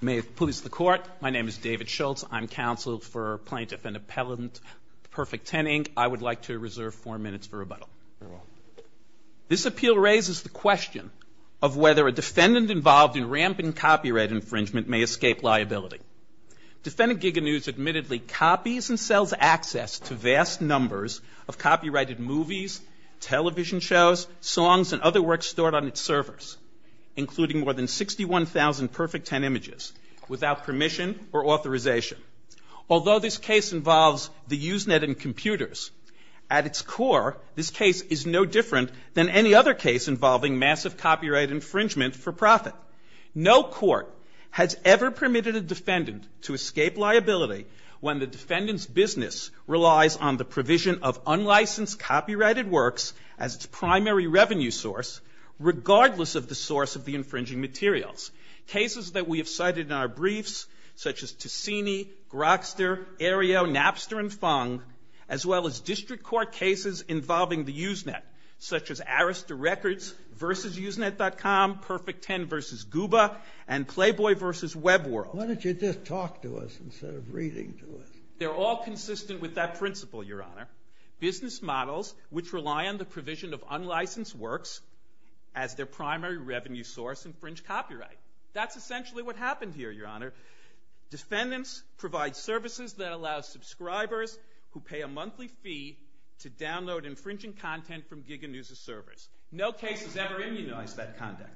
May it please the Court, my name is David Schultz, I'm counsel for Plaintiff and Appellant Perfect 10, Inc. I would like to reserve four minutes for rebuttal. This appeal raises the question of whether a defendant involved in rampant copyright infringement may escape liability. Defendant Giganews admittedly copies and sells access to vast numbers of copyrighted movies, television shows, songs, and other works stored on its servers, including more than 61,000 Perfect 10 images, without permission or authorization. Although this case involves the Usenet and computers, at its core, this case is no different than any other case involving massive copyright infringement for profit. No court has ever permitted a defendant to escape liability when the defendant's business relies on the provision of unlicensed copyrighted works as its primary revenue source, regardless of the source of the infringing materials. Cases that we have cited in our briefs, such as Ticini, Grokster, Aereo, Napster, and Fung, as well as district court cases involving the Usenet, such as Arista Records v. Usenet.com, Perfect 10 v. Gooba, and Playboy v. WebWorld. Why don't you just talk to us instead of reading to us? They're all consistent with that principle, Your Honor. Business models which rely on the provision of unlicensed works as their primary revenue source infringe copyright. That's essentially what happened here, Your Honor. Defendants provide services that allow subscribers who pay a monthly fee to download infringing content from Giga News' servers. No case has ever immunized that conduct.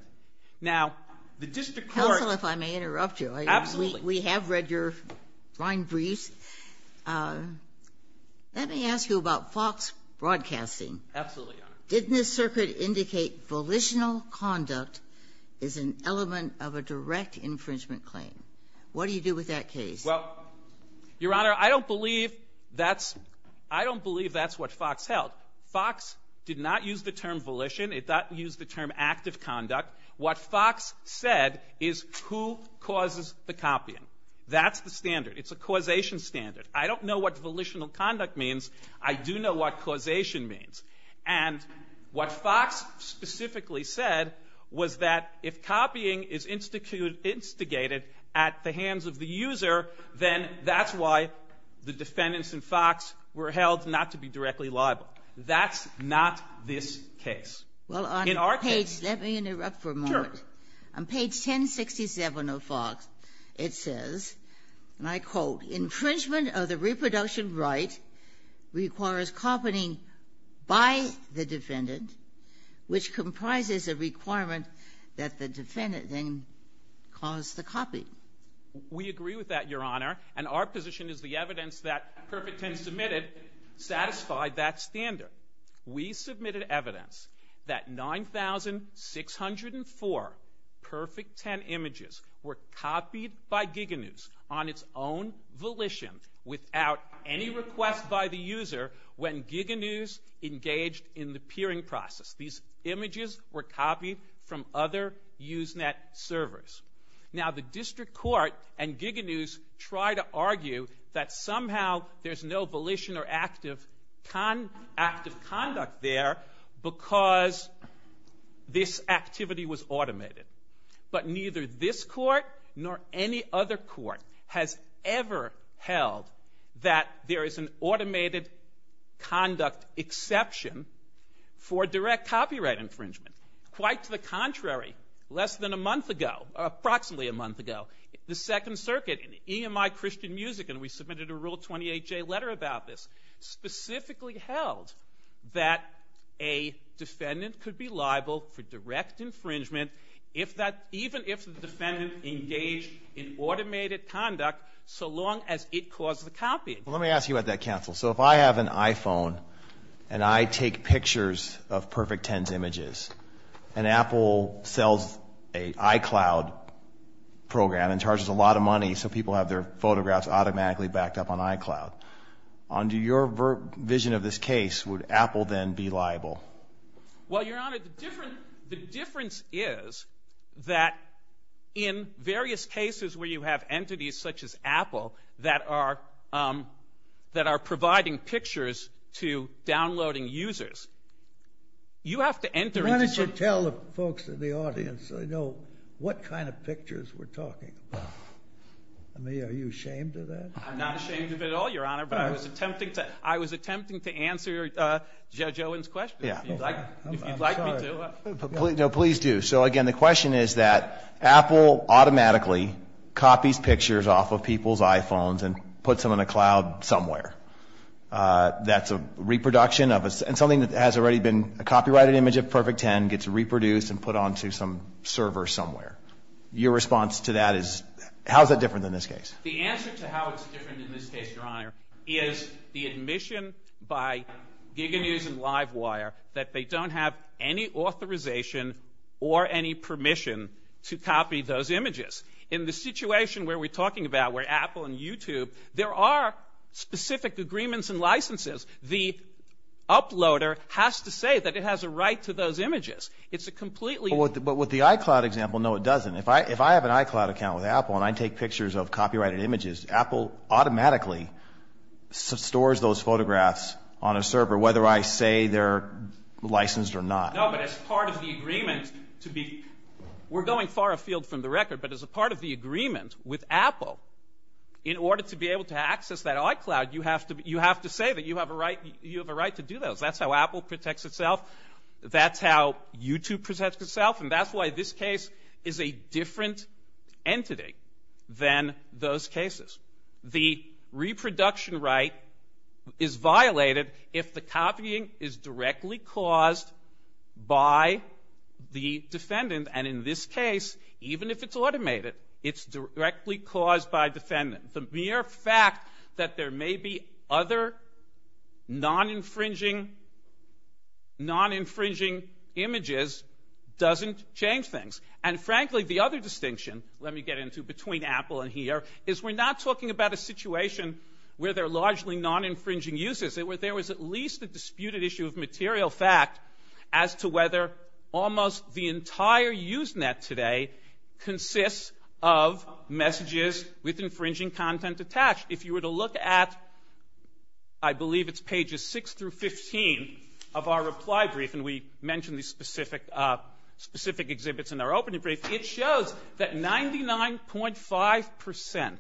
Now, the district court- Counsel, if I may interrupt you. Absolutely. We have read your fine briefs. Let me ask you about Fox Broadcasting. Absolutely, Your Honor. Didn't this circuit indicate volitional conduct is an element of a direct infringement claim? What do you do with that case? Well, Your Honor, I don't believe that's what Fox held. Fox did not use the term volition. It did not use the term active conduct. What Fox said is who causes the copying. That's the standard. It's a causation standard. I don't know what volitional conduct means. I do know what causation means. And what Fox specifically said was that if copying is instigated at the hands of the user, then that's why the defendants in Fox were held not to be directly liable. That's not this case. Well, on page- Let me interrupt for a moment. Sure. On page 1067 of Fox, it says, and I quote, infringement of the reproduction right requires copying by the defendant, which comprises a requirement that the defendant then cause the copying. We agree with that, Your Honor. And our position is the evidence that Perfect 10 submitted satisfied that standard. We submitted evidence that 9,604 Perfect 10 images were copied by Giga News on its own volition without any request by the user when Giga News engaged in the peering process. These images were copied from other Usenet servers. Now, the district court and Giga News try to argue that somehow there's no volition or active conduct there because this activity was automated. But neither this court nor any other court has ever held that there is an automated conduct exception for direct copyright infringement. Quite to the contrary, less than a month ago, approximately a month ago, the Second Specifically held that a defendant could be liable for direct infringement if that, even if the defendant engaged in automated conduct so long as it caused the copying. Well, let me ask you about that, counsel. So if I have an iPhone and I take pictures of Perfect 10's images and Apple sells a iCloud program and charges a lot of money so people have their photographs automatically backed up on iCloud. Under your vision of this case, would Apple then be liable? Well, Your Honor, the difference is that in various cases where you have entities such as Apple that are providing pictures to downloading users, you have to enter into- Why don't you tell the folks in the audience so they know what kind of pictures we're talking about. I mean, are you ashamed of that? I'm not ashamed of it at all, Your Honor. But I was attempting to answer Judge Owen's question, if you'd like me to. No, please do. So again, the question is that Apple automatically copies pictures off of people's iPhones and puts them in a cloud somewhere. That's a reproduction of a- and something that has already been a copyrighted image of Perfect 10 gets reproduced and put onto some server somewhere. Your response to that is, how is that different than this case? The answer to how it's different in this case, Your Honor, is the admission by GigaNews and LiveWire that they don't have any authorization or any permission to copy those images. In the situation where we're talking about, where Apple and YouTube, there are specific agreements and licenses. The uploader has to say that it has a right to those images. It's a completely- But with the iCloud example, no it doesn't. If I have an iCloud account with Apple and I take pictures of copyrighted images, Apple automatically stores those photographs on a server, whether I say they're licensed or not. No, but as part of the agreement to be- we're going far afield from the record, but as a part of the agreement with Apple, in order to be able to access that iCloud, you have to say that you have a right to do those. That's how Apple protects itself. That's how YouTube protects itself. And that's why this case is a different entity than those cases. The reproduction right is violated if the copying is directly caused by the defendant, and in this case, even if it's automated, it's directly caused by a defendant. The mere fact that there may be other non-infringing images doesn't change things. And frankly, the other distinction, let me get into between Apple and here, is we're not talking about a situation where there are largely non-infringing uses. There was at least a disputed issue of material fact as to whether almost the entire Usenet today consists of messages with infringing content attached. If you were to look at, I believe it's pages 6 through 15 of our reply brief, and we mentioned these specific exhibits in our opening brief, it shows that 99.5%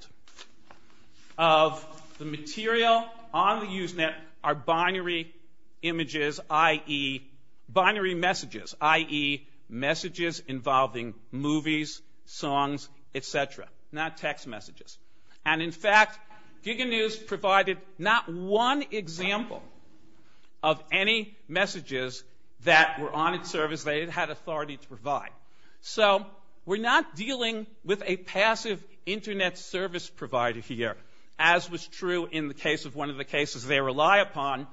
of the material on the Usenet are binary images, i.e. binary messages, i.e. messages involving movies, songs, etc. Not text messages. And in fact, Giga News provided not one example of any messages that were on its service that it had authority to provide. So we're not dealing with a passive internet service provider here, as was true in the case of one of the cases they rely upon,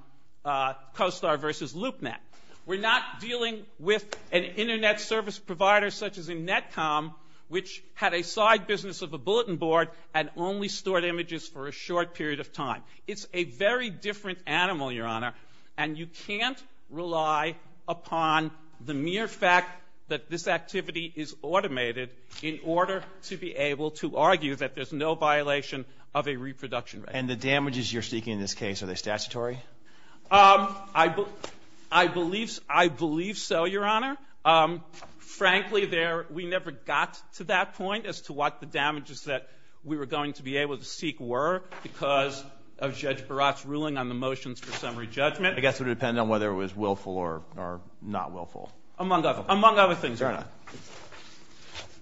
CoStar versus LoopNet. We're not dealing with an internet service provider such as a netcom, which had a side business of a bulletin board and only stored images for a short period of time. It's a very different animal, Your Honor, and you can't rely upon the mere fact that this activity is automated in order to be able to argue that there's no violation of a reproduction rate. And the damages you're seeking in this case, are they statutory? I believe so, Your Honor. Frankly, we never got to that point as to what the damages that we were going to be able to seek were because of Judge Baratt's ruling on the motions for summary judgment. I guess it would depend on whether it was willful or not willful. Among other things, Your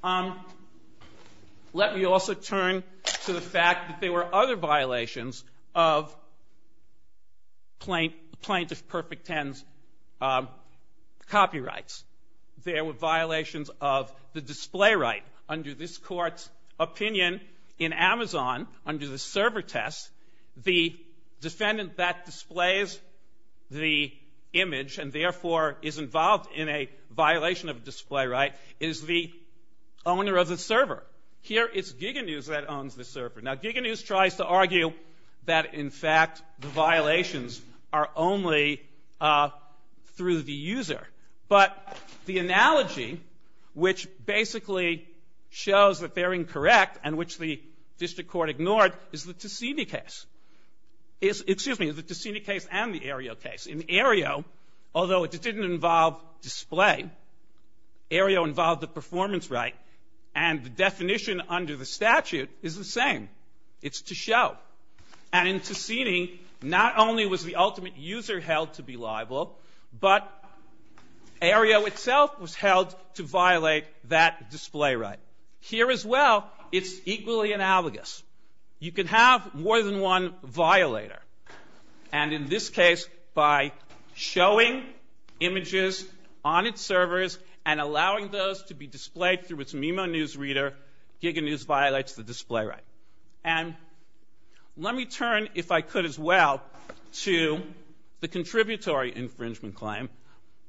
Honor. Let me also turn to the fact that there were other violations of Plaintiff Perfect Ten's copyrights. There were violations of the display right. Under this court's opinion in Amazon, under the server test, the defendant that displays the image and therefore is involved in a violation of display right is the owner of the server. Here it's Giga News that owns the server. Now, Giga News tries to argue that in fact the violations are only through the user. But the analogy which basically shows that they're incorrect and which the district court ignored is the Ticini case. Excuse me, the Ticini case and the Aereo case. In Aereo, although it didn't involve display, Aereo involved the performance right. And the definition under the statute is the same. It's to show. And in Ticini, not only was the ultimate user held to be liable, but Aereo itself was held to violate that display right. Here as well, it's equally analogous. You can have more than one violator. And in this case, by showing images on its servers and allowing those to be displayed through its MIMO news reader, Giga News violates the display right. And let me turn, if I could as well, to the contributory infringement claim.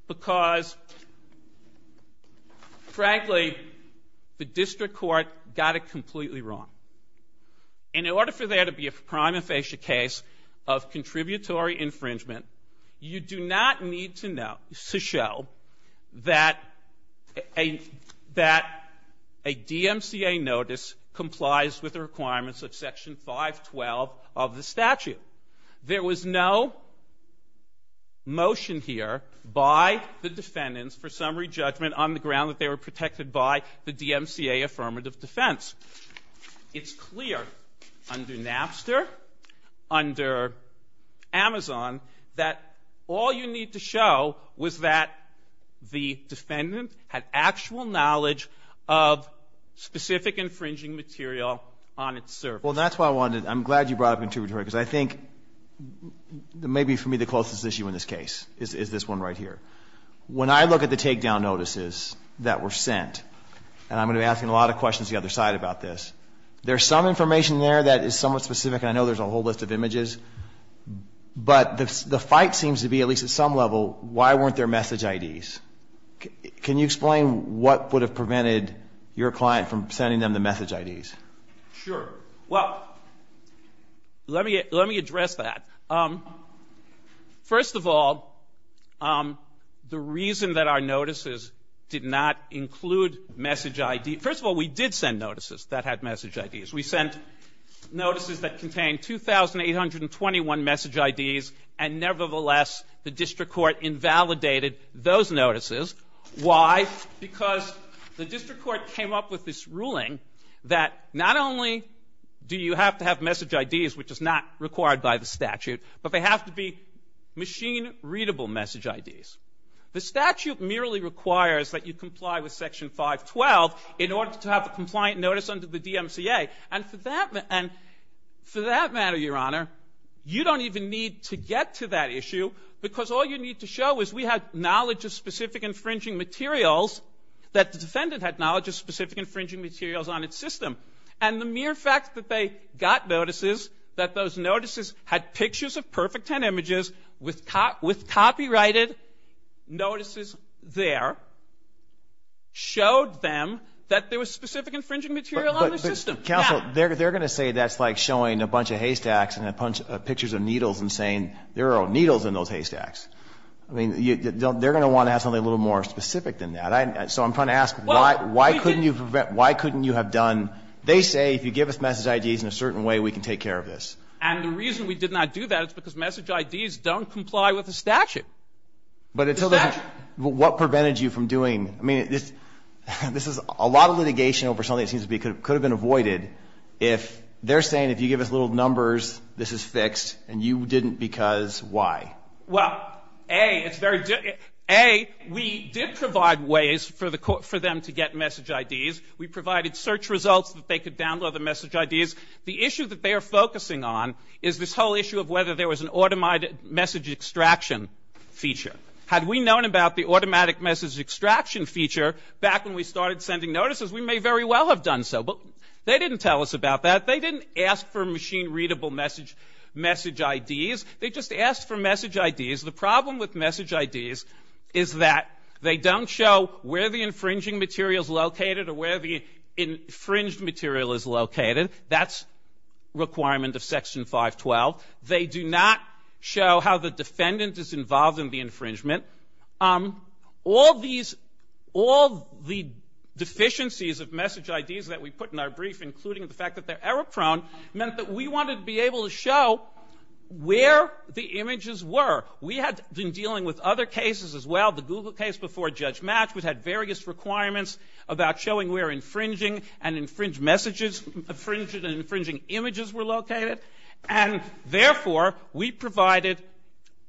Because, frankly, the district court got it completely wrong. In order for there to be a prima facie case of contributory infringement, you do not need to know, to show that a, that a DMCA notice complies with the requirements of section 512 of the statute. There was no motion here by the defendants for summary judgment on the ground that they were protected by the DMCA affirmative defense. It's clear under Napster, under Amazon, that all you need to show was that the defendant had actual knowledge of specific infringing material on its server. Well, that's why I wanted, I'm glad you brought up contributory, because I think that may be, for me, the closest issue in this case is this one right here. When I look at the takedown notices that were sent, and I'm going to be asking a lot of questions to the other side about this, there's some information there that is somewhat specific, and I know there's a whole list of images. But the fight seems to be, at least at some level, why weren't there message IDs? Can you explain what would have prevented your client from sending them the message IDs? Sure. Well, let me address that. First of all, the reason that our notices did not include message IDs, first of all, we did send notices that had message IDs. We sent notices that contained 2,821 message IDs, and nevertheless, the district court invalidated those notices. Why? Because the district court came up with this ruling that not only do you have to have message IDs, which is not required by the statute, but they have to be machine-readable message IDs. The statute merely requires that you comply with Section 512 in order to have a compliant notice under the DMCA. And for that matter, Your Honor, you don't even need to get to that issue, because all you need to show is we had knowledge of specific infringing materials, that the defendant had knowledge of specific infringing materials on its system. And the mere fact that they got notices, that those notices had pictures of perfect 10 images with copyrighted notices there, showed them that there was specific infringing material on the system. Counsel, they're going to say that's like showing a bunch of haystacks and a bunch of pictures of needles and saying, there are needles in those haystacks. I mean, they're going to want to have something a little more specific than that. So I'm trying to ask, why couldn't you have done, they say if you give us message IDs in a certain way, we can take care of this. And the reason we did not do that is because message IDs don't comply with the statute. But what prevented you from doing, I mean, this is a lot of litigation over something that seems to be could have been avoided. If they're saying if you give us little numbers, this is fixed, and you didn't because why? Well, A, we did provide ways for them to get message IDs. We provided search results that they could download the message IDs. The issue that they are focusing on is this whole issue of whether there was an automated message extraction feature. Had we known about the automatic message extraction feature back when we started sending notices, we may very well have done so. But they didn't tell us about that. They didn't ask for machine-readable message IDs. They just asked for message IDs. The problem with message IDs is that they don't show where the infringing material is located or where the infringed material is located. That's requirement of section 512. They do not show how the defendant is involved in the infringement. All the deficiencies of message IDs that we put in our brief, including the fact that they're error-prone, meant that we wanted to be able to show where the images were. We had been dealing with other cases as well. The Google case before Judge Match, which had various requirements about showing where infringing and infringed messages, infringed and infringing images were located. And therefore, we provided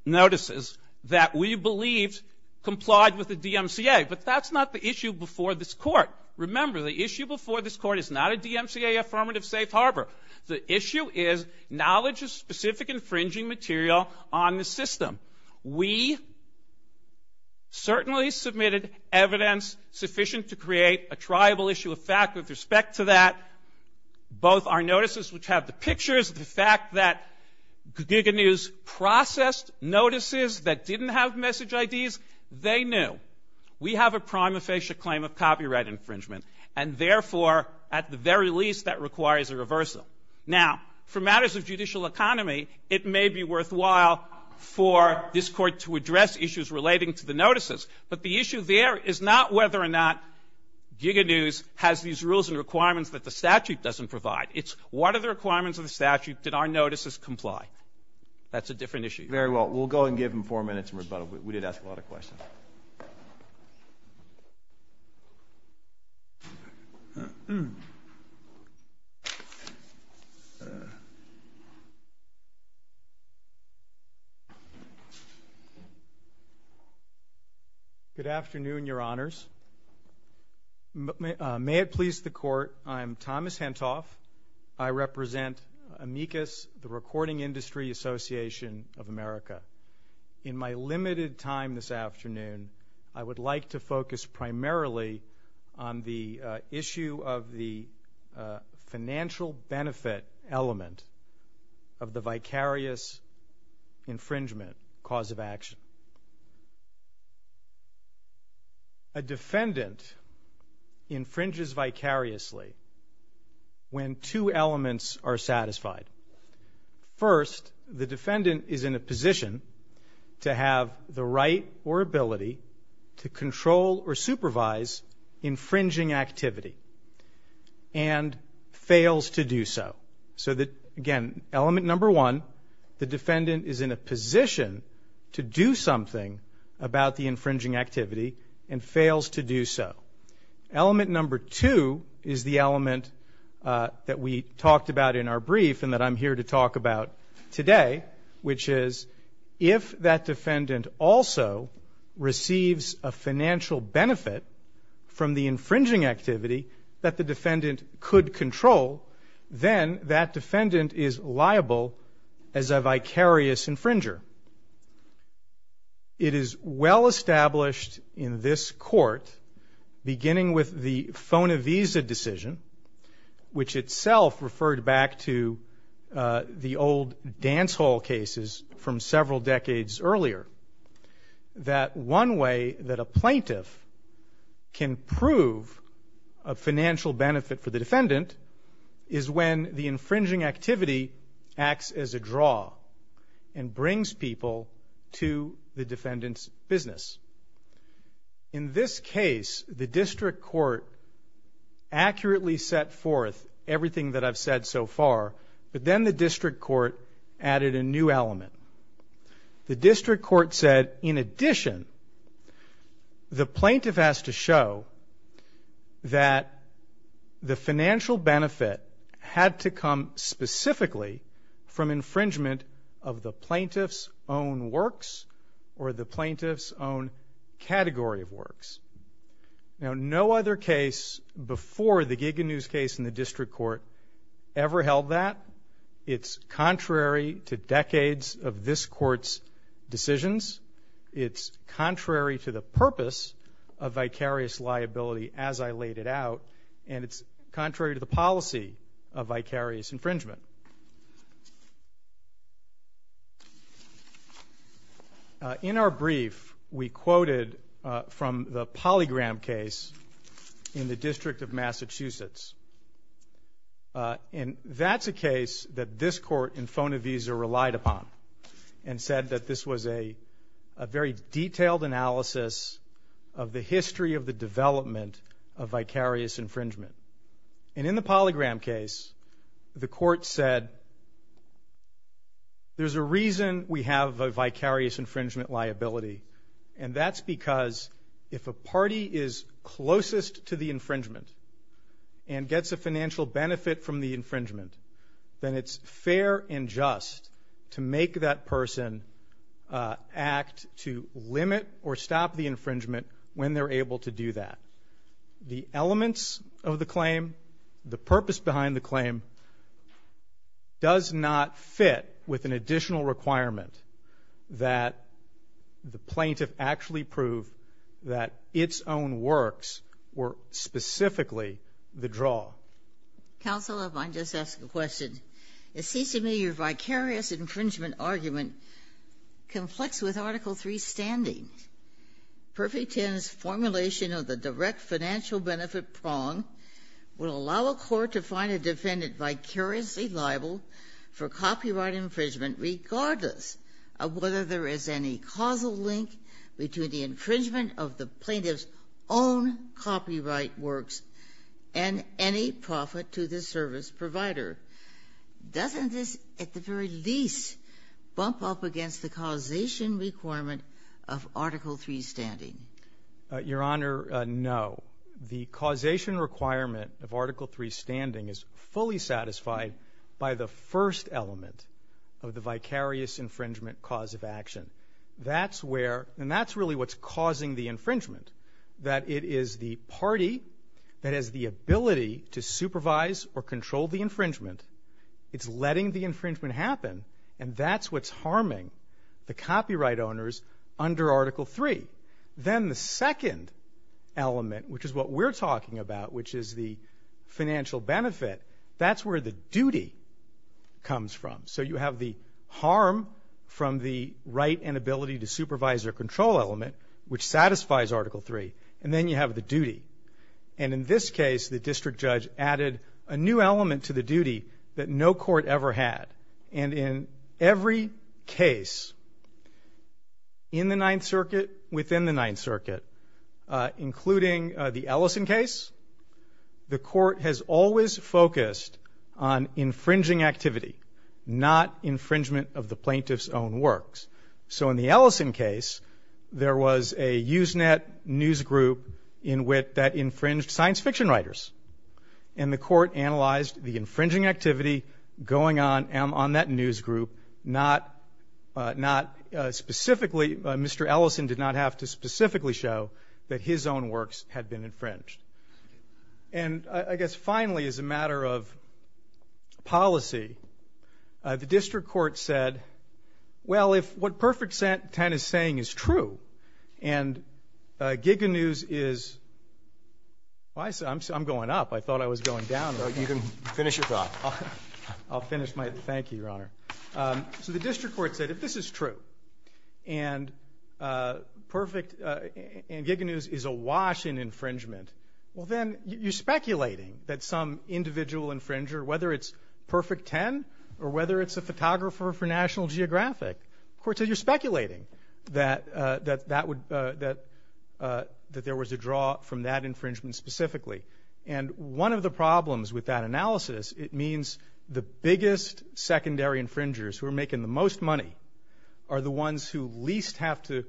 notices that we believed complied with the DMCA. But that's not the issue before this court. Remember, the issue before this court is not a DMCA affirmative safe harbor. The issue is knowledge of specific infringing material on the system. We certainly submitted evidence sufficient to create a triable issue of fact with respect to that. Both our notices, which have the pictures, the fact that Giga News processed notices that didn't have message IDs, they knew. We have a prima facie claim of copyright infringement. And therefore, at the very least, that requires a reversal. Now, for matters of judicial economy, it may be worthwhile for this court to address issues relating to the notices. But the issue there is not whether or not Giga News has these rules and requirements that the statute doesn't provide. It's what are the requirements of the statute? Did our notices comply? That's a different issue. Very well, we'll go and give him four minutes in rebuttal. We did ask a lot of questions. Good afternoon, your honors. May it please the court, I'm Thomas Hentoff. I represent AMICUS, the Recording Industry Association of America. In my limited time this afternoon, I would like to focus primarily on the issue of the financial benefit element of the vicarious infringement cause of action. A defendant infringes vicariously when two elements are satisfied. First, the defendant is in a position to have the right or ability to control or supervise infringing activity and fails to do so. So again, element number one, the defendant is in a position to do something about the infringing activity and fails to do so. Element number two is the element that we talked about in our brief and that I'm here to talk about today, which is if that defendant also receives a financial benefit from the infringing activity that the defendant could control, then that defendant is liable as a vicarious infringer. It is well established in this court, beginning with the FONA visa decision, which itself referred back to the old dance hall cases from several decades earlier. That one way that a plaintiff can prove a financial benefit for the defendant is when the infringing activity acts as a draw and brings people to the defendant's business. In this case, the district court accurately set forth everything that I've said so far, but then the district court added a new element. The district court said, in addition, the plaintiff has to show that the financial benefit had to come specifically from infringement of the plaintiff's own works or the plaintiff's own category of works. Now, no other case before the Giga News case in the district court ever held that. It's contrary to decades of this court's decisions, it's contrary to the purpose of vicarious liability as I laid it out, and it's contrary to the policy of vicarious infringement. In our brief, we quoted from the Polygram case in the District of Massachusetts. And that's a case that this court in Fonavisa relied upon, and said that this was a very detailed analysis of the history of the development of vicarious infringement. And in the Polygram case, the court said, there's a reason we have a vicarious infringement liability, and that's because if a party is closest to the infringement and gets a financial benefit from the infringement, then it's fair and just to make that person act to limit or stop the infringement when they're able to do that. The elements of the claim, the purpose behind the claim, does not fit with an additional requirement that the plaintiff actually prove that its own works were specifically the draw. Counsel, if I can just ask a question. It seems to me your vicarious infringement argument conflicts with Article III's standing. Perfect Ten's formulation of the direct financial benefit prong will allow a court to find a defendant vicariously liable for copyright infringement regardless of whether there is any causal link between the infringement of the plaintiff's own copyright works and any profit to the service provider. Doesn't this, at the very least, bump up against the causation requirement of Article III's standing? Your Honor, no. The causation requirement of Article III's standing is fully satisfied by the first element of the vicarious infringement cause of action. That's where, and that's really what's causing the infringement, that it is the party that has the ability to supervise or control the infringement. It's letting the infringement happen, and that's what's harming the copyright owners under Article III. Then the second element, which is what we're talking about, which is the financial benefit, that's where the duty comes from. So you have the harm from the right and ability to supervise or control element, which satisfies Article III. And then you have the duty. And in this case, the district judge added a new element to the duty that no court ever had. And in every case in the Ninth Circuit, within the Ninth Circuit, including the Ellison case, the court has always focused on infringing activity, not infringement of the plaintiff's own works. So in the Ellison case, there was a Usenet news group in which that infringed science fiction writers. And the court analyzed the infringing activity going on on that news group, not specifically, Mr. Ellison did not have to specifically show that his own works had been infringed. And I guess finally, as a matter of policy, the district court said, well, if what Perfect Ten is saying is true, and Giga News is, well, I'm going up. I thought I was going down. Well, you can finish your thought. I'll finish my, thank you, Your Honor. So the district court said, if this is true, and Giga News is awash in infringement, well, then you're speculating that some individual infringer, whether it's Perfect Ten or whether it's a photographer for National Geographic, the court said you're speculating that there was a draw from that infringement specifically. And one of the problems with that analysis, it means the biggest secondary infringers who are making the most money are the ones who least have to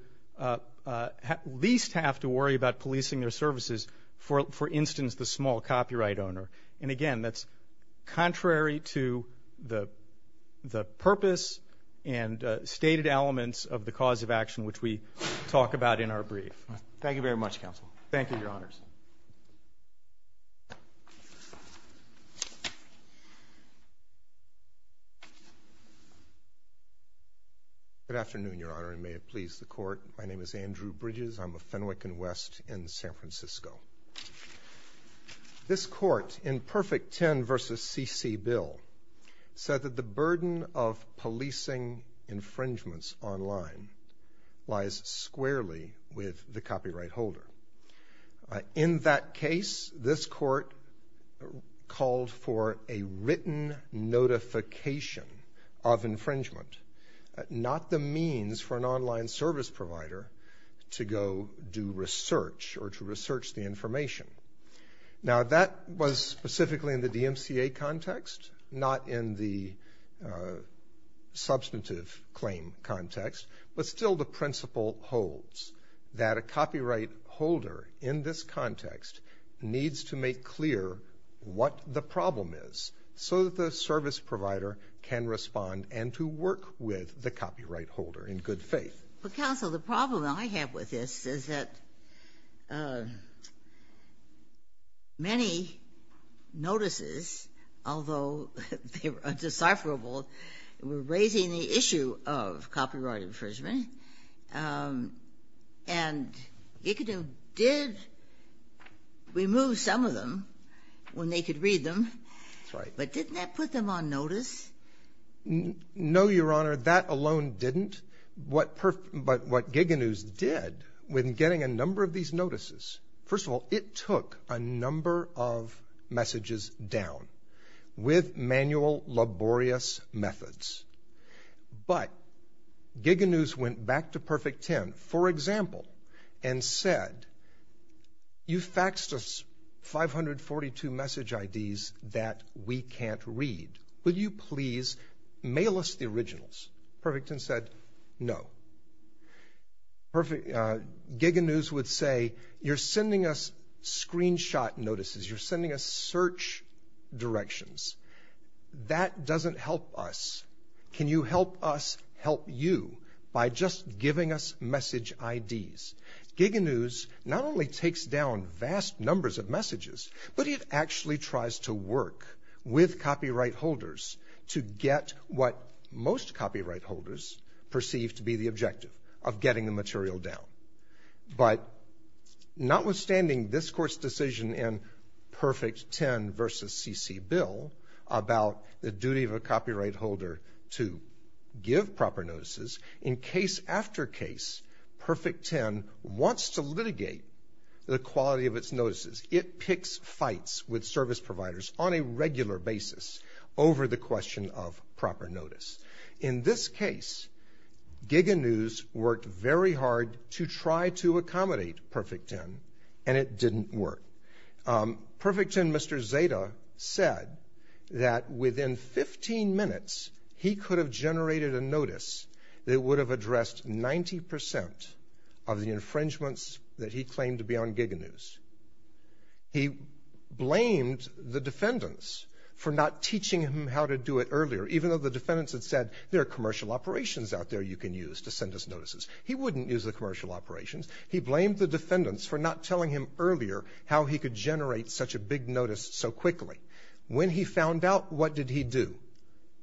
worry about policing their services, for instance, the small copyright owner. And again, that's contrary to the purpose and stated elements of the cause of action, which we talk about in our brief. Thank you very much, Counsel. Thank you, Your Honors. Good afternoon, Your Honor, and may it please the Court. My name is Andrew Bridges. I'm a Fenwick and West in San Francisco. This court in Perfect Ten versus C.C. Bill said that the burden of policing infringements online lies squarely with the copyright holder. In that case, this court called for a written notification of infringement, not the means for an online service provider to go do research or to research the information. Now, that was specifically in the DMCA context, not in the substantive claim context, but still the principle holds that a copyright holder in this context needs to make clear what the problem is so that the service provider can respond and to work with the copyright holder in good faith. But, Counsel, the problem I have with this is that many notices, although they're undecipherable, were raising the issue of copyright infringement, and you could have did remove some of them when they could read them. Sorry. But didn't that put them on notice? No, Your Honor. That alone didn't. But what Giga News did when getting a number of these notices, first of all, it took a number of messages down with manual laborious methods. But Giga News went back to Perfect Ten, for example, and said you faxed us 542 message IDs that we can't read. Will you please mail us the originals? Perfect Ten said no. Perfect, Giga News would say you're sending us screenshot notices. You're sending us search directions. That doesn't help us. Can you help us help you by just giving us message IDs? Giga News not only takes down vast numbers of messages, but it actually tries to work with copyright holders to get what most copyright holders perceive to be the objective of getting the material down. But notwithstanding this Court's decision in Perfect Ten versus C.C. Bill about the duty of a copyright holder to give proper notices, in case after case, Perfect Ten wants to litigate the quality of its notices. It picks fights with service providers on a regular basis over the question of proper notice. In this case, Giga News worked very hard to try to accommodate Perfect Ten, and it didn't work. Perfect Ten, Mr. Zeta, said that within 15 minutes, he could have generated a notice that would have addressed 90% of the infringements that he claimed to be on Giga News. He blamed the defendants for not teaching him how to do it earlier, even though the defendants had said there are commercial operations out there you can use to send us notices. He wouldn't use the commercial operations. He blamed the defendants for not telling him earlier how he could generate such a big notice so quickly. When he found out, what did he do?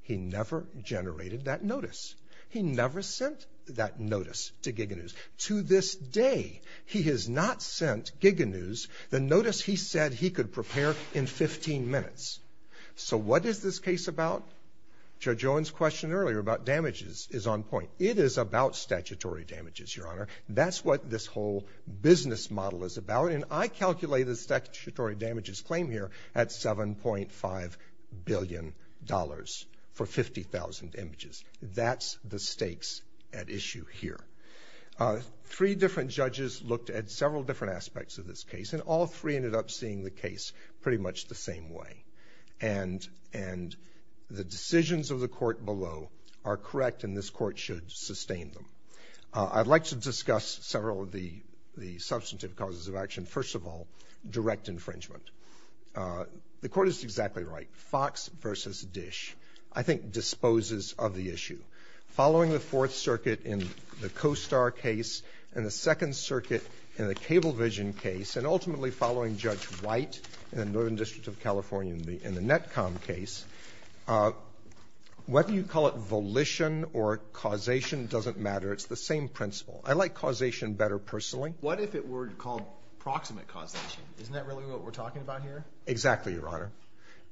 He never generated that notice. He never sent that notice to Giga News. To this day, he has not sent Giga News the notice he said he could prepare in 15 minutes. So what is this case about? Judge Owen's question earlier about damages is on point. It is about statutory damages, Your Honor. That's what this whole business model is about, and I calculate the statutory damages claim here at $7.5 billion for 50,000 images. That's the stakes at issue here. Three different judges looked at several different aspects of this case, and all three ended up seeing the case pretty much the same way. And the decisions of the court below are correct, and this court should sustain them. I'd like to discuss several of the substantive causes of action. First of all, direct infringement. The court is exactly right. Fox v. Dish, I think, disposes of the issue. Following the Fourth Circuit in the CoStar case, and the Second Circuit in the Cablevision case, and ultimately following Judge White in the Northern District of California in the Netcom case, whether you call it volition or causation doesn't matter. It's the same principle. I like causation better personally. What if it were called proximate causation? Isn't that really what we're talking about here? Exactly, Your Honor.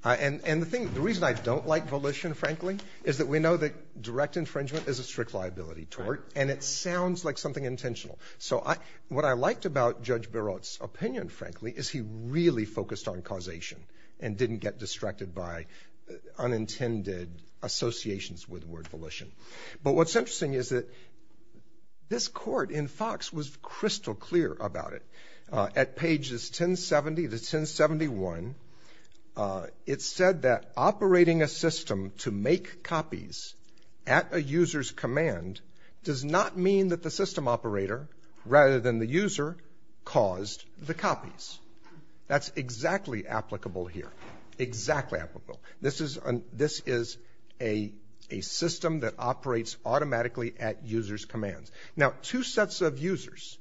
And the thing the reason I don't like volition, frankly, is that we know that direct infringement is a strict liability tort, and it sounds like something intentional. So what I liked about Judge Barrett's opinion, frankly, is he really focused on causation and didn't get distracted by unintended associations with the word volition. But what's interesting is that this court in Fox was crystal clear about it. At pages 1070 to 1071, it said that operating a system to make copies at a user's command does not mean that the system operator, rather than the user, caused the copies. That's exactly applicable here. Exactly applicable. This is a system that operates automatically at user's commands. Now, two sets of users.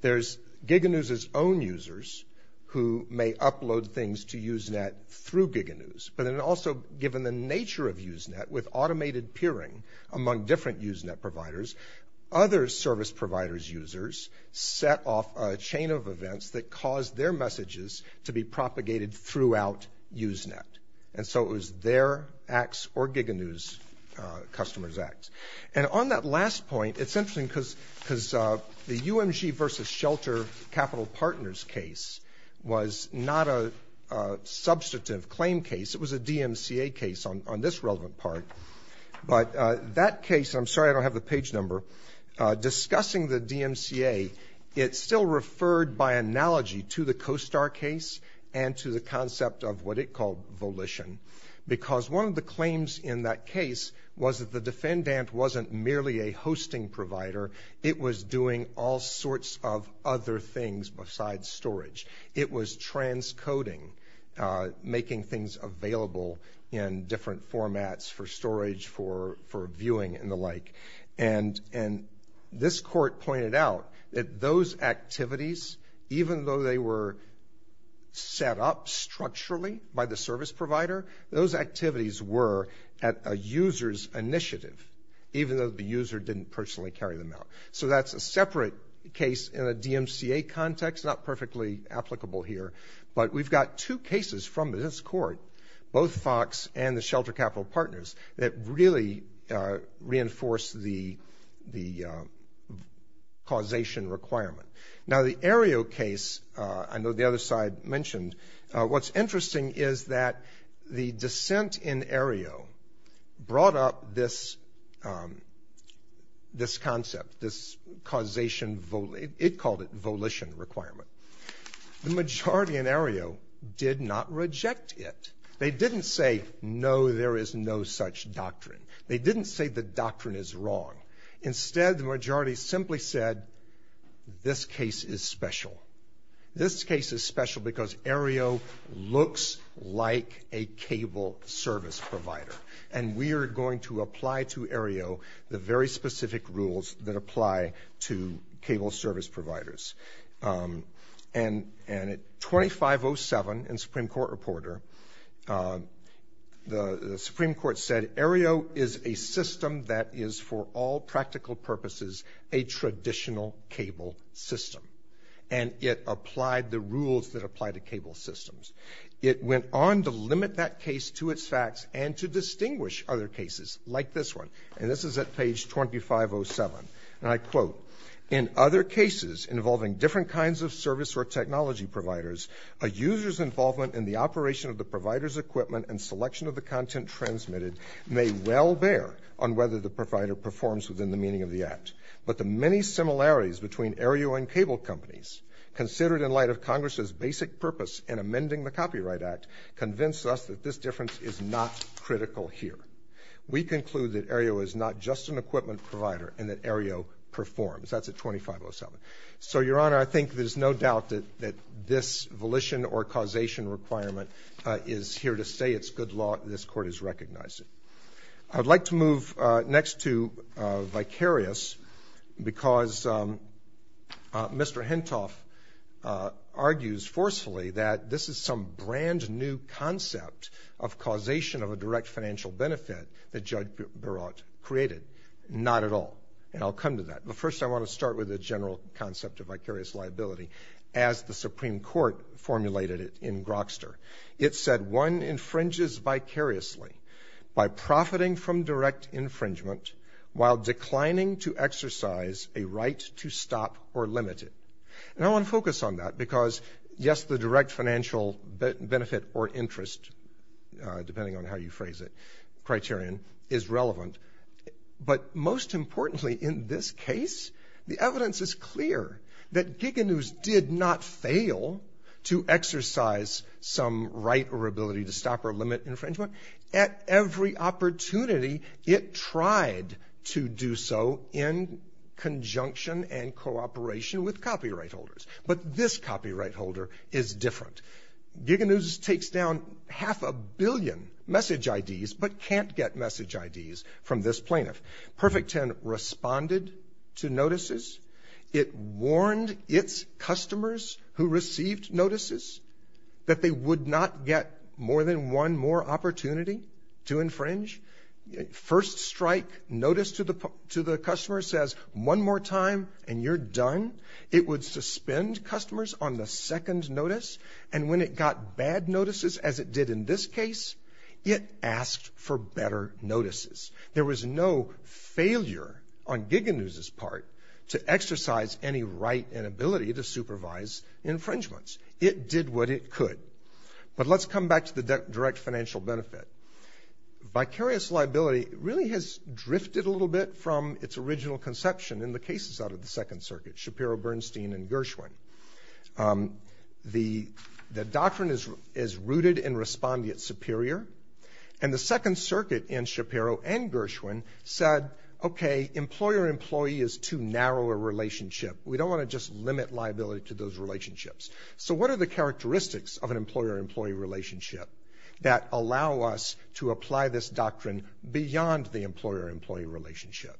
There's GigaNews' own users who may upload things to Usenet through GigaNews, but then also given the nature of Usenet with automated peering among different Usenet providers, other service providers' users set off a chain of events that caused their messages to be propagated throughout Usenet. And so it was their acts or GigaNews' customers' acts. And on that last point, it's interesting because the UMG versus Shelter Capital Partners case was not a substantive claim case. It was a DMCA case on this relevant part. But that case, I'm sorry I don't have the page number, discussing the DMCA, it still referred by analogy to the CoStar case and to the concept of what it called volition. Because one of the claims in that case was that the defendant wasn't merely a hosting provider. It was doing all sorts of other things besides storage. It was transcoding, making things available in different formats for storage, for viewing and the like. And this court pointed out that those activities, even though they were set up structurally by the service provider, those activities were at a user's initiative, even though the user didn't personally carry them out. So that's a separate case in a DMCA context, not perfectly applicable here. But we've got two cases from this court, both Fox and the Shelter Capital Partners, that really reinforce the causation requirement. Now the Aereo case, I know the other side mentioned, what's interesting is that the dissent in Aereo brought up this concept, this causation, it called it volition requirement. The majority in Aereo did not reject it. They didn't say, no, there is no such doctrine. They didn't say the doctrine is wrong. Instead, the majority simply said, this case is special. This case is special because Aereo looks like a cable service provider. And we are going to apply to Aereo the very specific rules that apply to cable service providers. And at 25.07 in Supreme Court Reporter, the Supreme Court said Aereo is a system that is for all practical purposes a traditional cable system. And it applied the rules that apply to cable systems. It went on to limit that case to its facts and to distinguish other cases like this one. And this is at page 25.07. And I quote, in other cases involving different kinds of service or technology providers, a user's involvement in the operation of the provider's equipment and selection of the content transmitted may well bear on whether the provider performs within the meaning of the act. But the many similarities between Aereo and cable companies, considered in light of Congress's basic purpose in amending the Copyright Act, convince us that this difference is not critical here. We conclude that Aereo is not just an equipment provider and that Aereo performs. That's at 25.07. So, Your Honor, I think there's no doubt that this volition or causation requirement is here to say it's good law and this Court has recognized it. I'd like to move next to vicarious because Mr. Hentoff argues forcefully that this is some brand new concept of causation of a direct financial benefit that Judge Barrett created. Not at all. And I'll come to that. But first, I want to start with the general concept of vicarious liability as the Supreme Court formulated it in Grokster. It said one infringes vicariously by profiting from direct infringement while declining to exercise a right to stop or limit it. And I want to focus on that because, yes, the direct financial benefit or interest, depending on how you phrase it, criterion is relevant. But most importantly in this case, the evidence is clear that Giganews did not fail to exercise some right or ability to stop or limit infringement. At every opportunity, it tried to do so in conjunction and cooperation with copyright holders. But this copyright holder is different. Giganews takes down half a billion message IDs but can't get message IDs from this plaintiff. Perfect Ten responded to notices. It warned its customers who received notices that they would not get more than one more opportunity to infringe. First strike notice to the customer says, one more time and you're done. It would suspend customers on the second notice. And when it got bad notices as it did in this case, it asked for better notices. There was no failure on Giganews' part to exercise any right and ability to supervise infringements. It did what it could. But let's come back to the direct financial benefit. Vicarious liability really has drifted a little bit from its original conception in the cases out of the Second Circuit, Shapiro, Bernstein, and Gershwin. The doctrine is rooted in respondeat superior and the Second Circuit in Shapiro and Gershwin said, okay, employer-employee is too narrow a relationship. We don't want to just limit liability to those relationships. So what are the characteristics of an employer-employee relationship that allow us to apply this doctrine beyond the employer-employee relationship?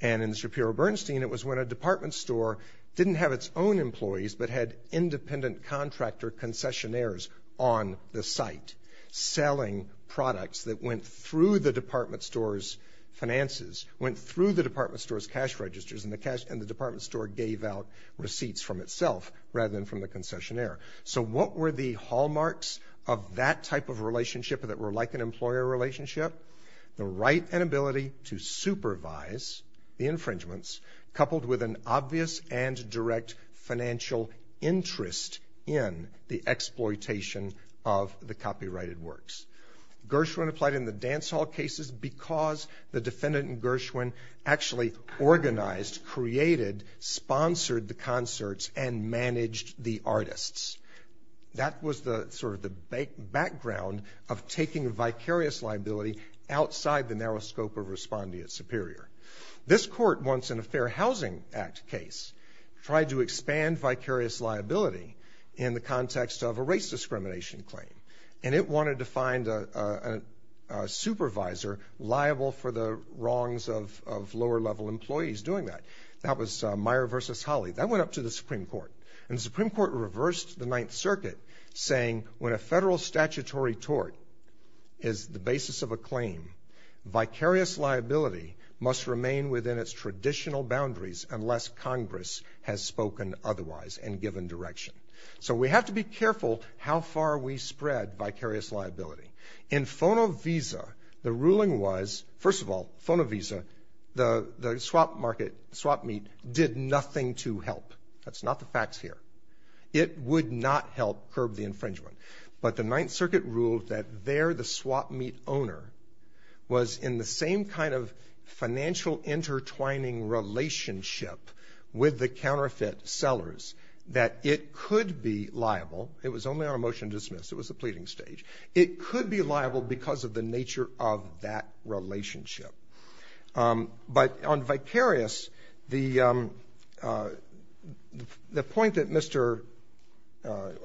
And in Shapiro-Bernstein, it was when a department store didn't have its own employees but had independent contractor concessionaires on the site selling products that went through the department store's finances, went through the department store's cash registers and the department store gave out receipts from itself rather than from the concessionaire. So what were the hallmarks of that type of relationship that were like an employer relationship? The right and ability to supervise the infringements coupled with an obvious Gershwin applied in the dance hall cases because the defendant and Gershwin actually organized, created, sponsored the concerts and managed the artists. That was sort of the background of taking vicarious liability outside the narrow scope of respondeat superior. This court, once in a Fair Housing Act case, tried to expand vicarious liability in the context of a race discrimination claim. And it wanted to find a supervisor liable for the wrongs of lower level employees doing that. That was Meyer versus Holly. That went up to the Supreme Court. And the Supreme Court reversed the Ninth Circuit saying when a federal statutory tort is the basis of a claim, vicarious liability must remain within its traditional boundaries unless Congress has spoken otherwise and given direction. So we have to be careful how far we spread vicarious liability. In Fono Visa, the ruling was, first of all, Fono Visa, the swap market, swap meet, did nothing to help. That's not the facts here. It would not help curb the infringement. But the Ninth Circuit ruled that there the swap meet owner was in the same kind of financial intertwining relationship with the counterfeit sellers that it could be liable. It was only on a motion to dismiss. It was a pleading stage. It could be liable because of the nature of that relationship. But on vicarious, the point that Mr.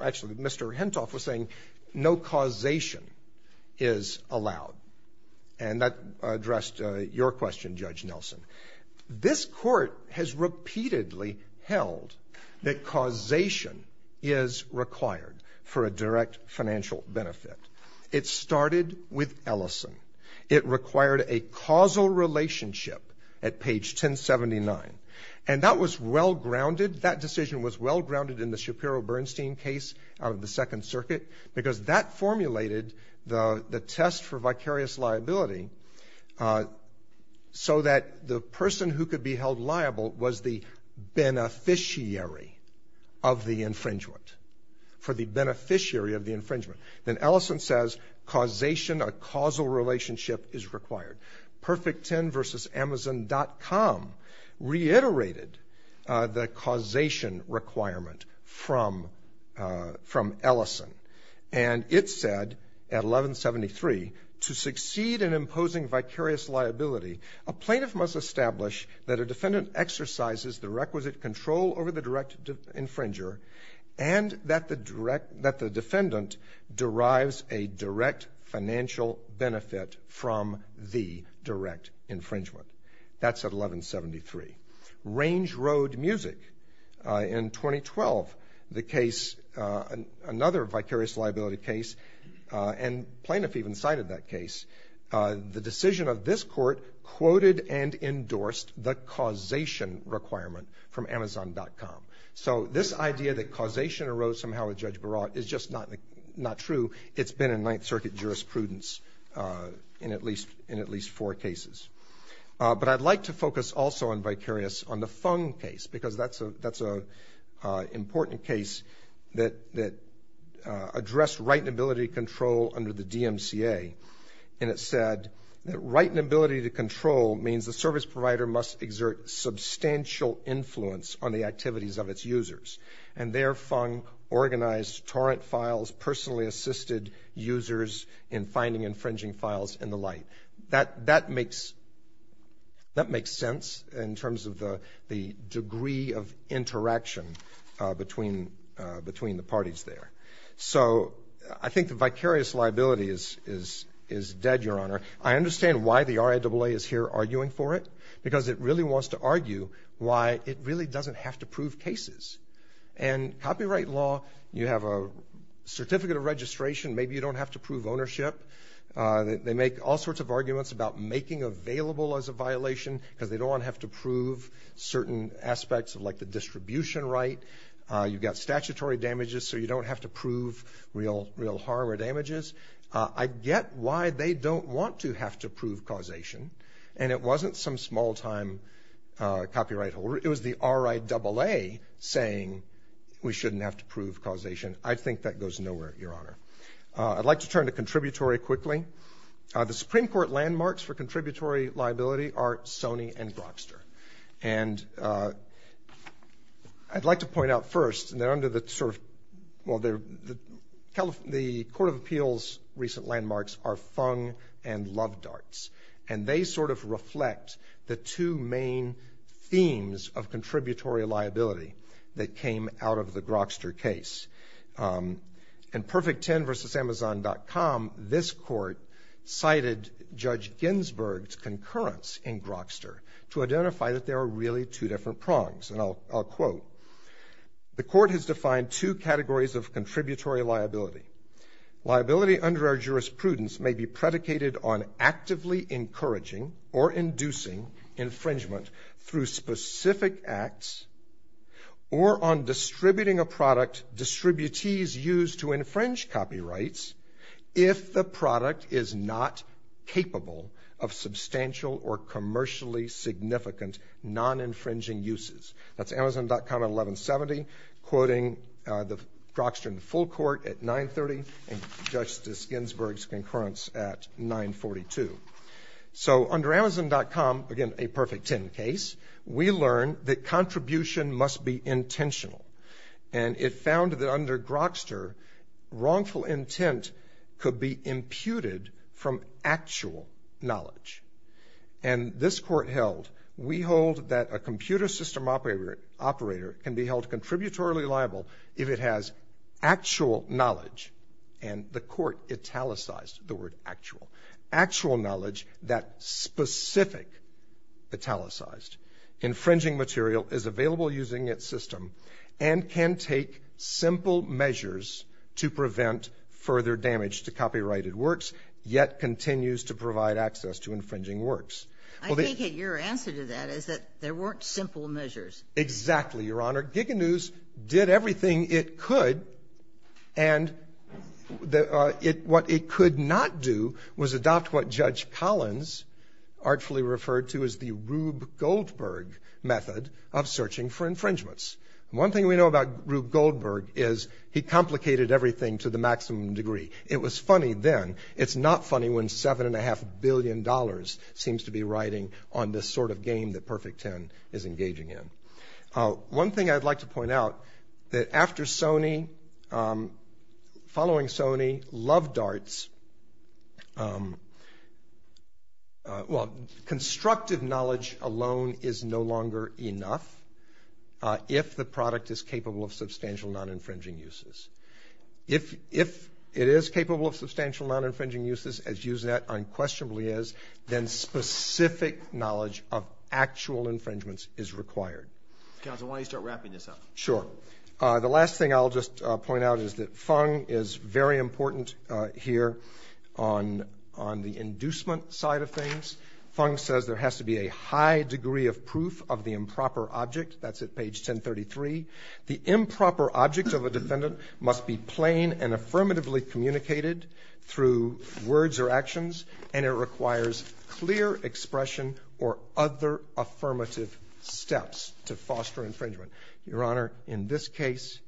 actually Mr. Hentoff was saying, no causation is allowed. And that addressed your question, Judge Nelson. This court has repeatedly held that causation is required for a direct financial benefit. It started with Ellison. It required a causal relationship at page 1079. And that was well-grounded. That decision was well-grounded in the Shapiro-Bernstein case out of the Second Circuit because that formulated the test for vicarious liability so that the person who could be held liable was the beneficiary of the infringement, for the beneficiary of the infringement. Then Ellison says, causation, a causal relationship is required. Perfect 10 versus Amazon.com reiterated the causation requirement from Ellison. And it said at 1173, to succeed in imposing vicarious liability, a plaintiff must establish that a defendant exercises the requisite control over the direct infringer and that the defendant derives a direct financial benefit from the direct infringement. That's at 1173. Range Road Music, in 2012, the case, another vicarious liability case, and plaintiff even cited that case, the decision of this court quoted and endorsed the causation requirement from Amazon.com. So this idea that causation arose somehow with Judge Barat is just not true. It's been in Ninth Circuit jurisprudence in at least four cases. But I'd like to focus also on vicarious on the Fung case because that's an important case that addressed right and ability to control under the DMCA. And it said that right and ability to control means the service provider must exert substantial influence on the activities of its users. And there, Fung organized torrent files, personally assisted users in finding infringing files and the like. That makes sense in terms of the degree of interaction between the parties there. So I think the vicarious liability is dead, Your Honor. I understand why the RIAA is here arguing for it because it really wants to argue why it really doesn't have to prove cases. And copyright law, you have a certificate of registration. Maybe you don't have to prove ownership. They make all sorts of arguments about making available as a violation because they don't want to have to prove certain aspects of like the distribution right. You've got statutory damages so you don't have to prove real harm or damages. I get why they don't want to have to prove causation. And it wasn't some small-time copyright holder. It was the RIAA saying we shouldn't have to prove causation. I think that goes nowhere, Your Honor. I'd like to turn to contributory quickly. The Supreme Court landmarks for contributory liability are Sony and Grokster. And I'd like to point out first, and they're under the sort of, well, the Court of Appeals' recent landmarks are Fung and Lovedarts. And they sort of reflect the two main themes of contributory liability that came out of the Grokster case. In Perfect10 versus Amazon.com, this court cited Judge Ginsburg's concurrence in Grokster to identify that there are really two different prongs. And I'll quote, the court has defined two categories of contributory liability. Liability under our jurisprudence may be predicated on actively encouraging or inducing infringement through specific acts or on distributing a product distributees use to infringe copyrights if the product is not capable of substantial or commercially significant non-infringing uses. That's Amazon.com at 1170, quoting the Grokster in full court at 930, and Judge Ginsburg's concurrence at 942. So under Amazon.com, again, a Perfect10 case, we learn that contribution must be intentional. And it found that under Grokster, wrongful intent could be imputed from actual knowledge. And this court held, we hold that a computer system operator can be held contributory liable if it has actual knowledge, and the court italicized the word actual. Actual knowledge that specific italicized infringing material is available using its system and can take simple measures to prevent further damage to copyrighted works, yet continues to provide access to infringing works. Well, the -- I take it your answer to that is that there weren't simple measures. Exactly, Your Honor. Giga News did everything it could, and what it could not do was adopt what Judge Collins artfully referred to as the Rube Goldberg method of searching for infringements. One thing we know about Rube Goldberg is he complicated everything to the maximum degree. It was funny then. It's not funny when $7.5 billion seems to be riding on this sort of game that Perfect10 is engaging in. One thing I'd like to point out, that after Sony, following Sony, Love Darts, well, constructive knowledge alone is no longer enough if the product is capable of substantial non-infringing uses. If it is capable of substantial non-infringing uses, as using that unquestionably is, then specific knowledge of actual infringements is required. Counsel, why don't you start wrapping this up? Sure. The last thing I'll just point out is that Fung is very important here on the inducement side of things. Fung says there has to be a high degree of proof of the improper object. That's at page 1033. The improper object of a defendant must be plain and affirmatively communicated through words or actions, and it requires clear expression or other affirmative steps to foster infringement. Your Honor, in this case,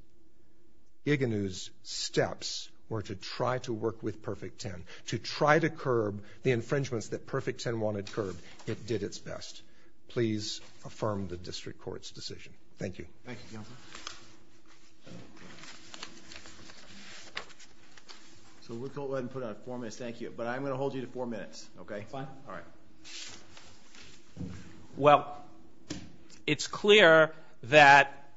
Iganu's steps were to try to work with Perfect10, to try to curb the infringements that Perfect10 wanted curbed. It did its best. Please affirm the district court's decision. Thank you. Thank you, Your Honor. So we'll go ahead and put on four minutes. Thank you. But I'm going to hold you to four minutes, okay? Fine. All right. Well, it's clear that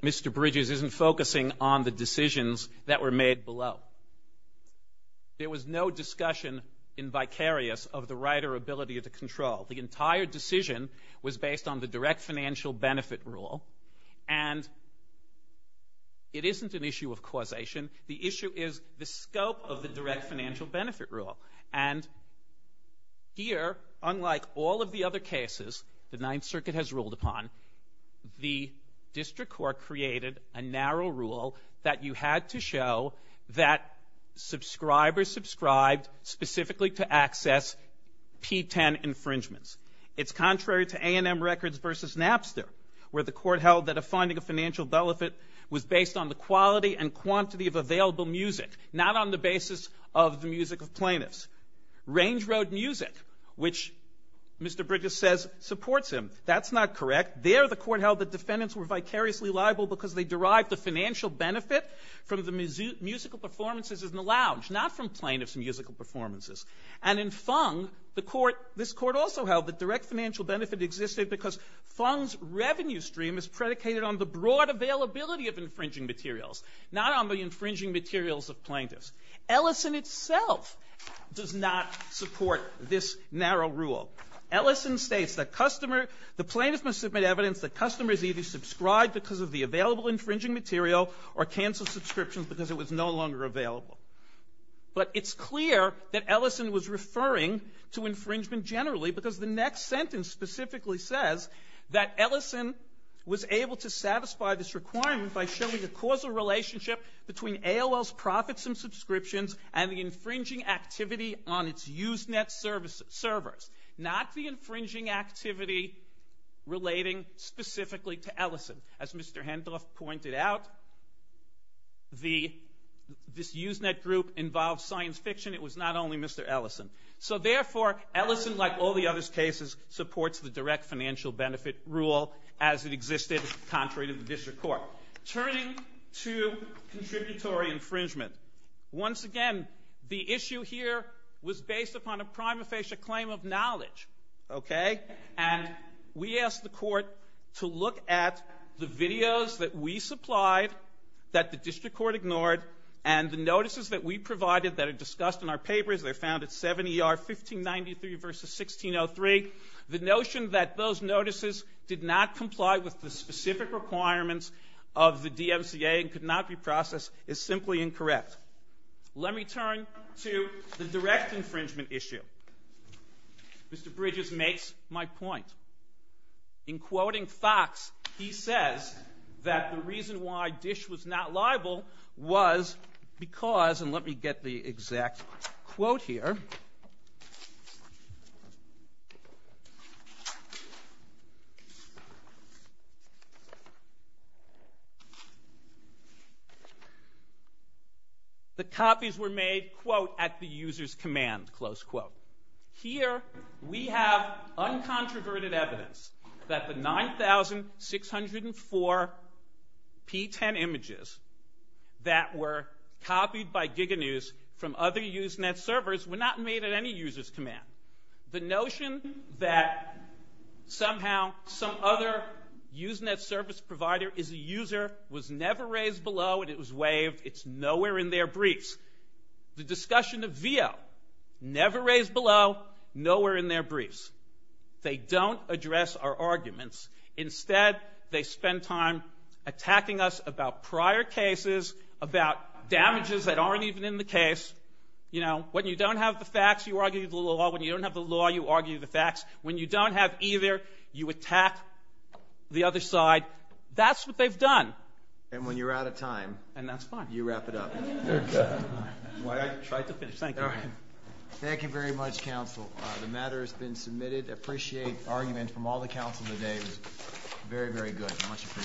Mr. Bridges isn't focusing on the decisions that were made below. There was no discussion in vicarious of the right or ability to control. The entire decision was based on the direct financial benefit rule, and it isn't an issue of causation. The issue is the scope of the direct financial benefit rule. And here, unlike all of the other cases the Ninth Circuit has ruled upon, the district court created a narrow rule that you had to show that subscribers subscribed specifically to access P10 infringements. It's contrary to A&M Records versus Napster, where the court held that a finding of financial benefit was based on the quality and quantity of available music, not on the basis of the music of plaintiffs. Range Road Music, which Mr. Bridges says supports him, that's not correct. There, the court held that defendants were vicariously liable because they derived the financial benefit from the musical performances in the lounge, not from plaintiffs' musical performances. And in Fung, the court, this court also held that direct financial benefit existed because Fung's revenue stream is predicated on the broad availability of infringing materials, not on the infringing materials of plaintiffs. Ellison itself does not support this narrow rule. Ellison states that customer, the plaintiffs must submit evidence that customers either subscribe because of the available infringing material or cancel subscriptions because it was no longer available. But it's clear that Ellison was referring to infringement generally because the next sentence specifically says that Ellison was able to satisfy this requirement by showing the causal relationship between AOL's profits and subscriptions and the infringing activity on its Usenet servers, not the infringing activity relating specifically to Ellison. As Mr. Hendroff pointed out, this Usenet group involved science fiction. It was not only Mr. Ellison. So therefore, Ellison, like all the other cases, supports the direct financial benefit rule as it existed contrary to the district court. Turning to contributory infringement, once again, the issue here was based upon a prima facie claim of knowledge, okay? And we asked the court to look at the videos that we supplied that the district court ignored and the notices that we provided that are discussed in our papers. They're found at 7ER 1593 versus 1603. The notion that those notices did not comply with the specific requirements of the DMCA and could not be processed is simply incorrect. Let me turn to the direct infringement issue. Mr. Bridges makes my point. In quoting Fox, he says that the reason why DISH was not liable was because, and let me get the exact quote here. The copies were made, quote, at the user's command, close quote. Here, we have uncontroverted evidence that the 9,604 P10 images that were copied by GigaNews from other Usenet servers were not made at any user's command. The notion that somehow some other Usenet service provider is a user was never raised below and it was waived, it's nowhere in their briefs. The discussion of VO, never raised below, nowhere in their briefs. They don't address our arguments. Instead, they spend time attacking us about prior cases, about damages that aren't even in the case. You know, when you don't have the facts, you argue the law. When you don't have the law, you argue the facts. When you don't have either, you attack the other side. That's what they've done. And when you're out of time. And that's fine. You wrap it up. Okay. Why, I tried to finish. Thank you. Thank you very much, counsel. The matter has been submitted. I appreciate arguments from all the counsel today. It was very, very good. I much appreciate it.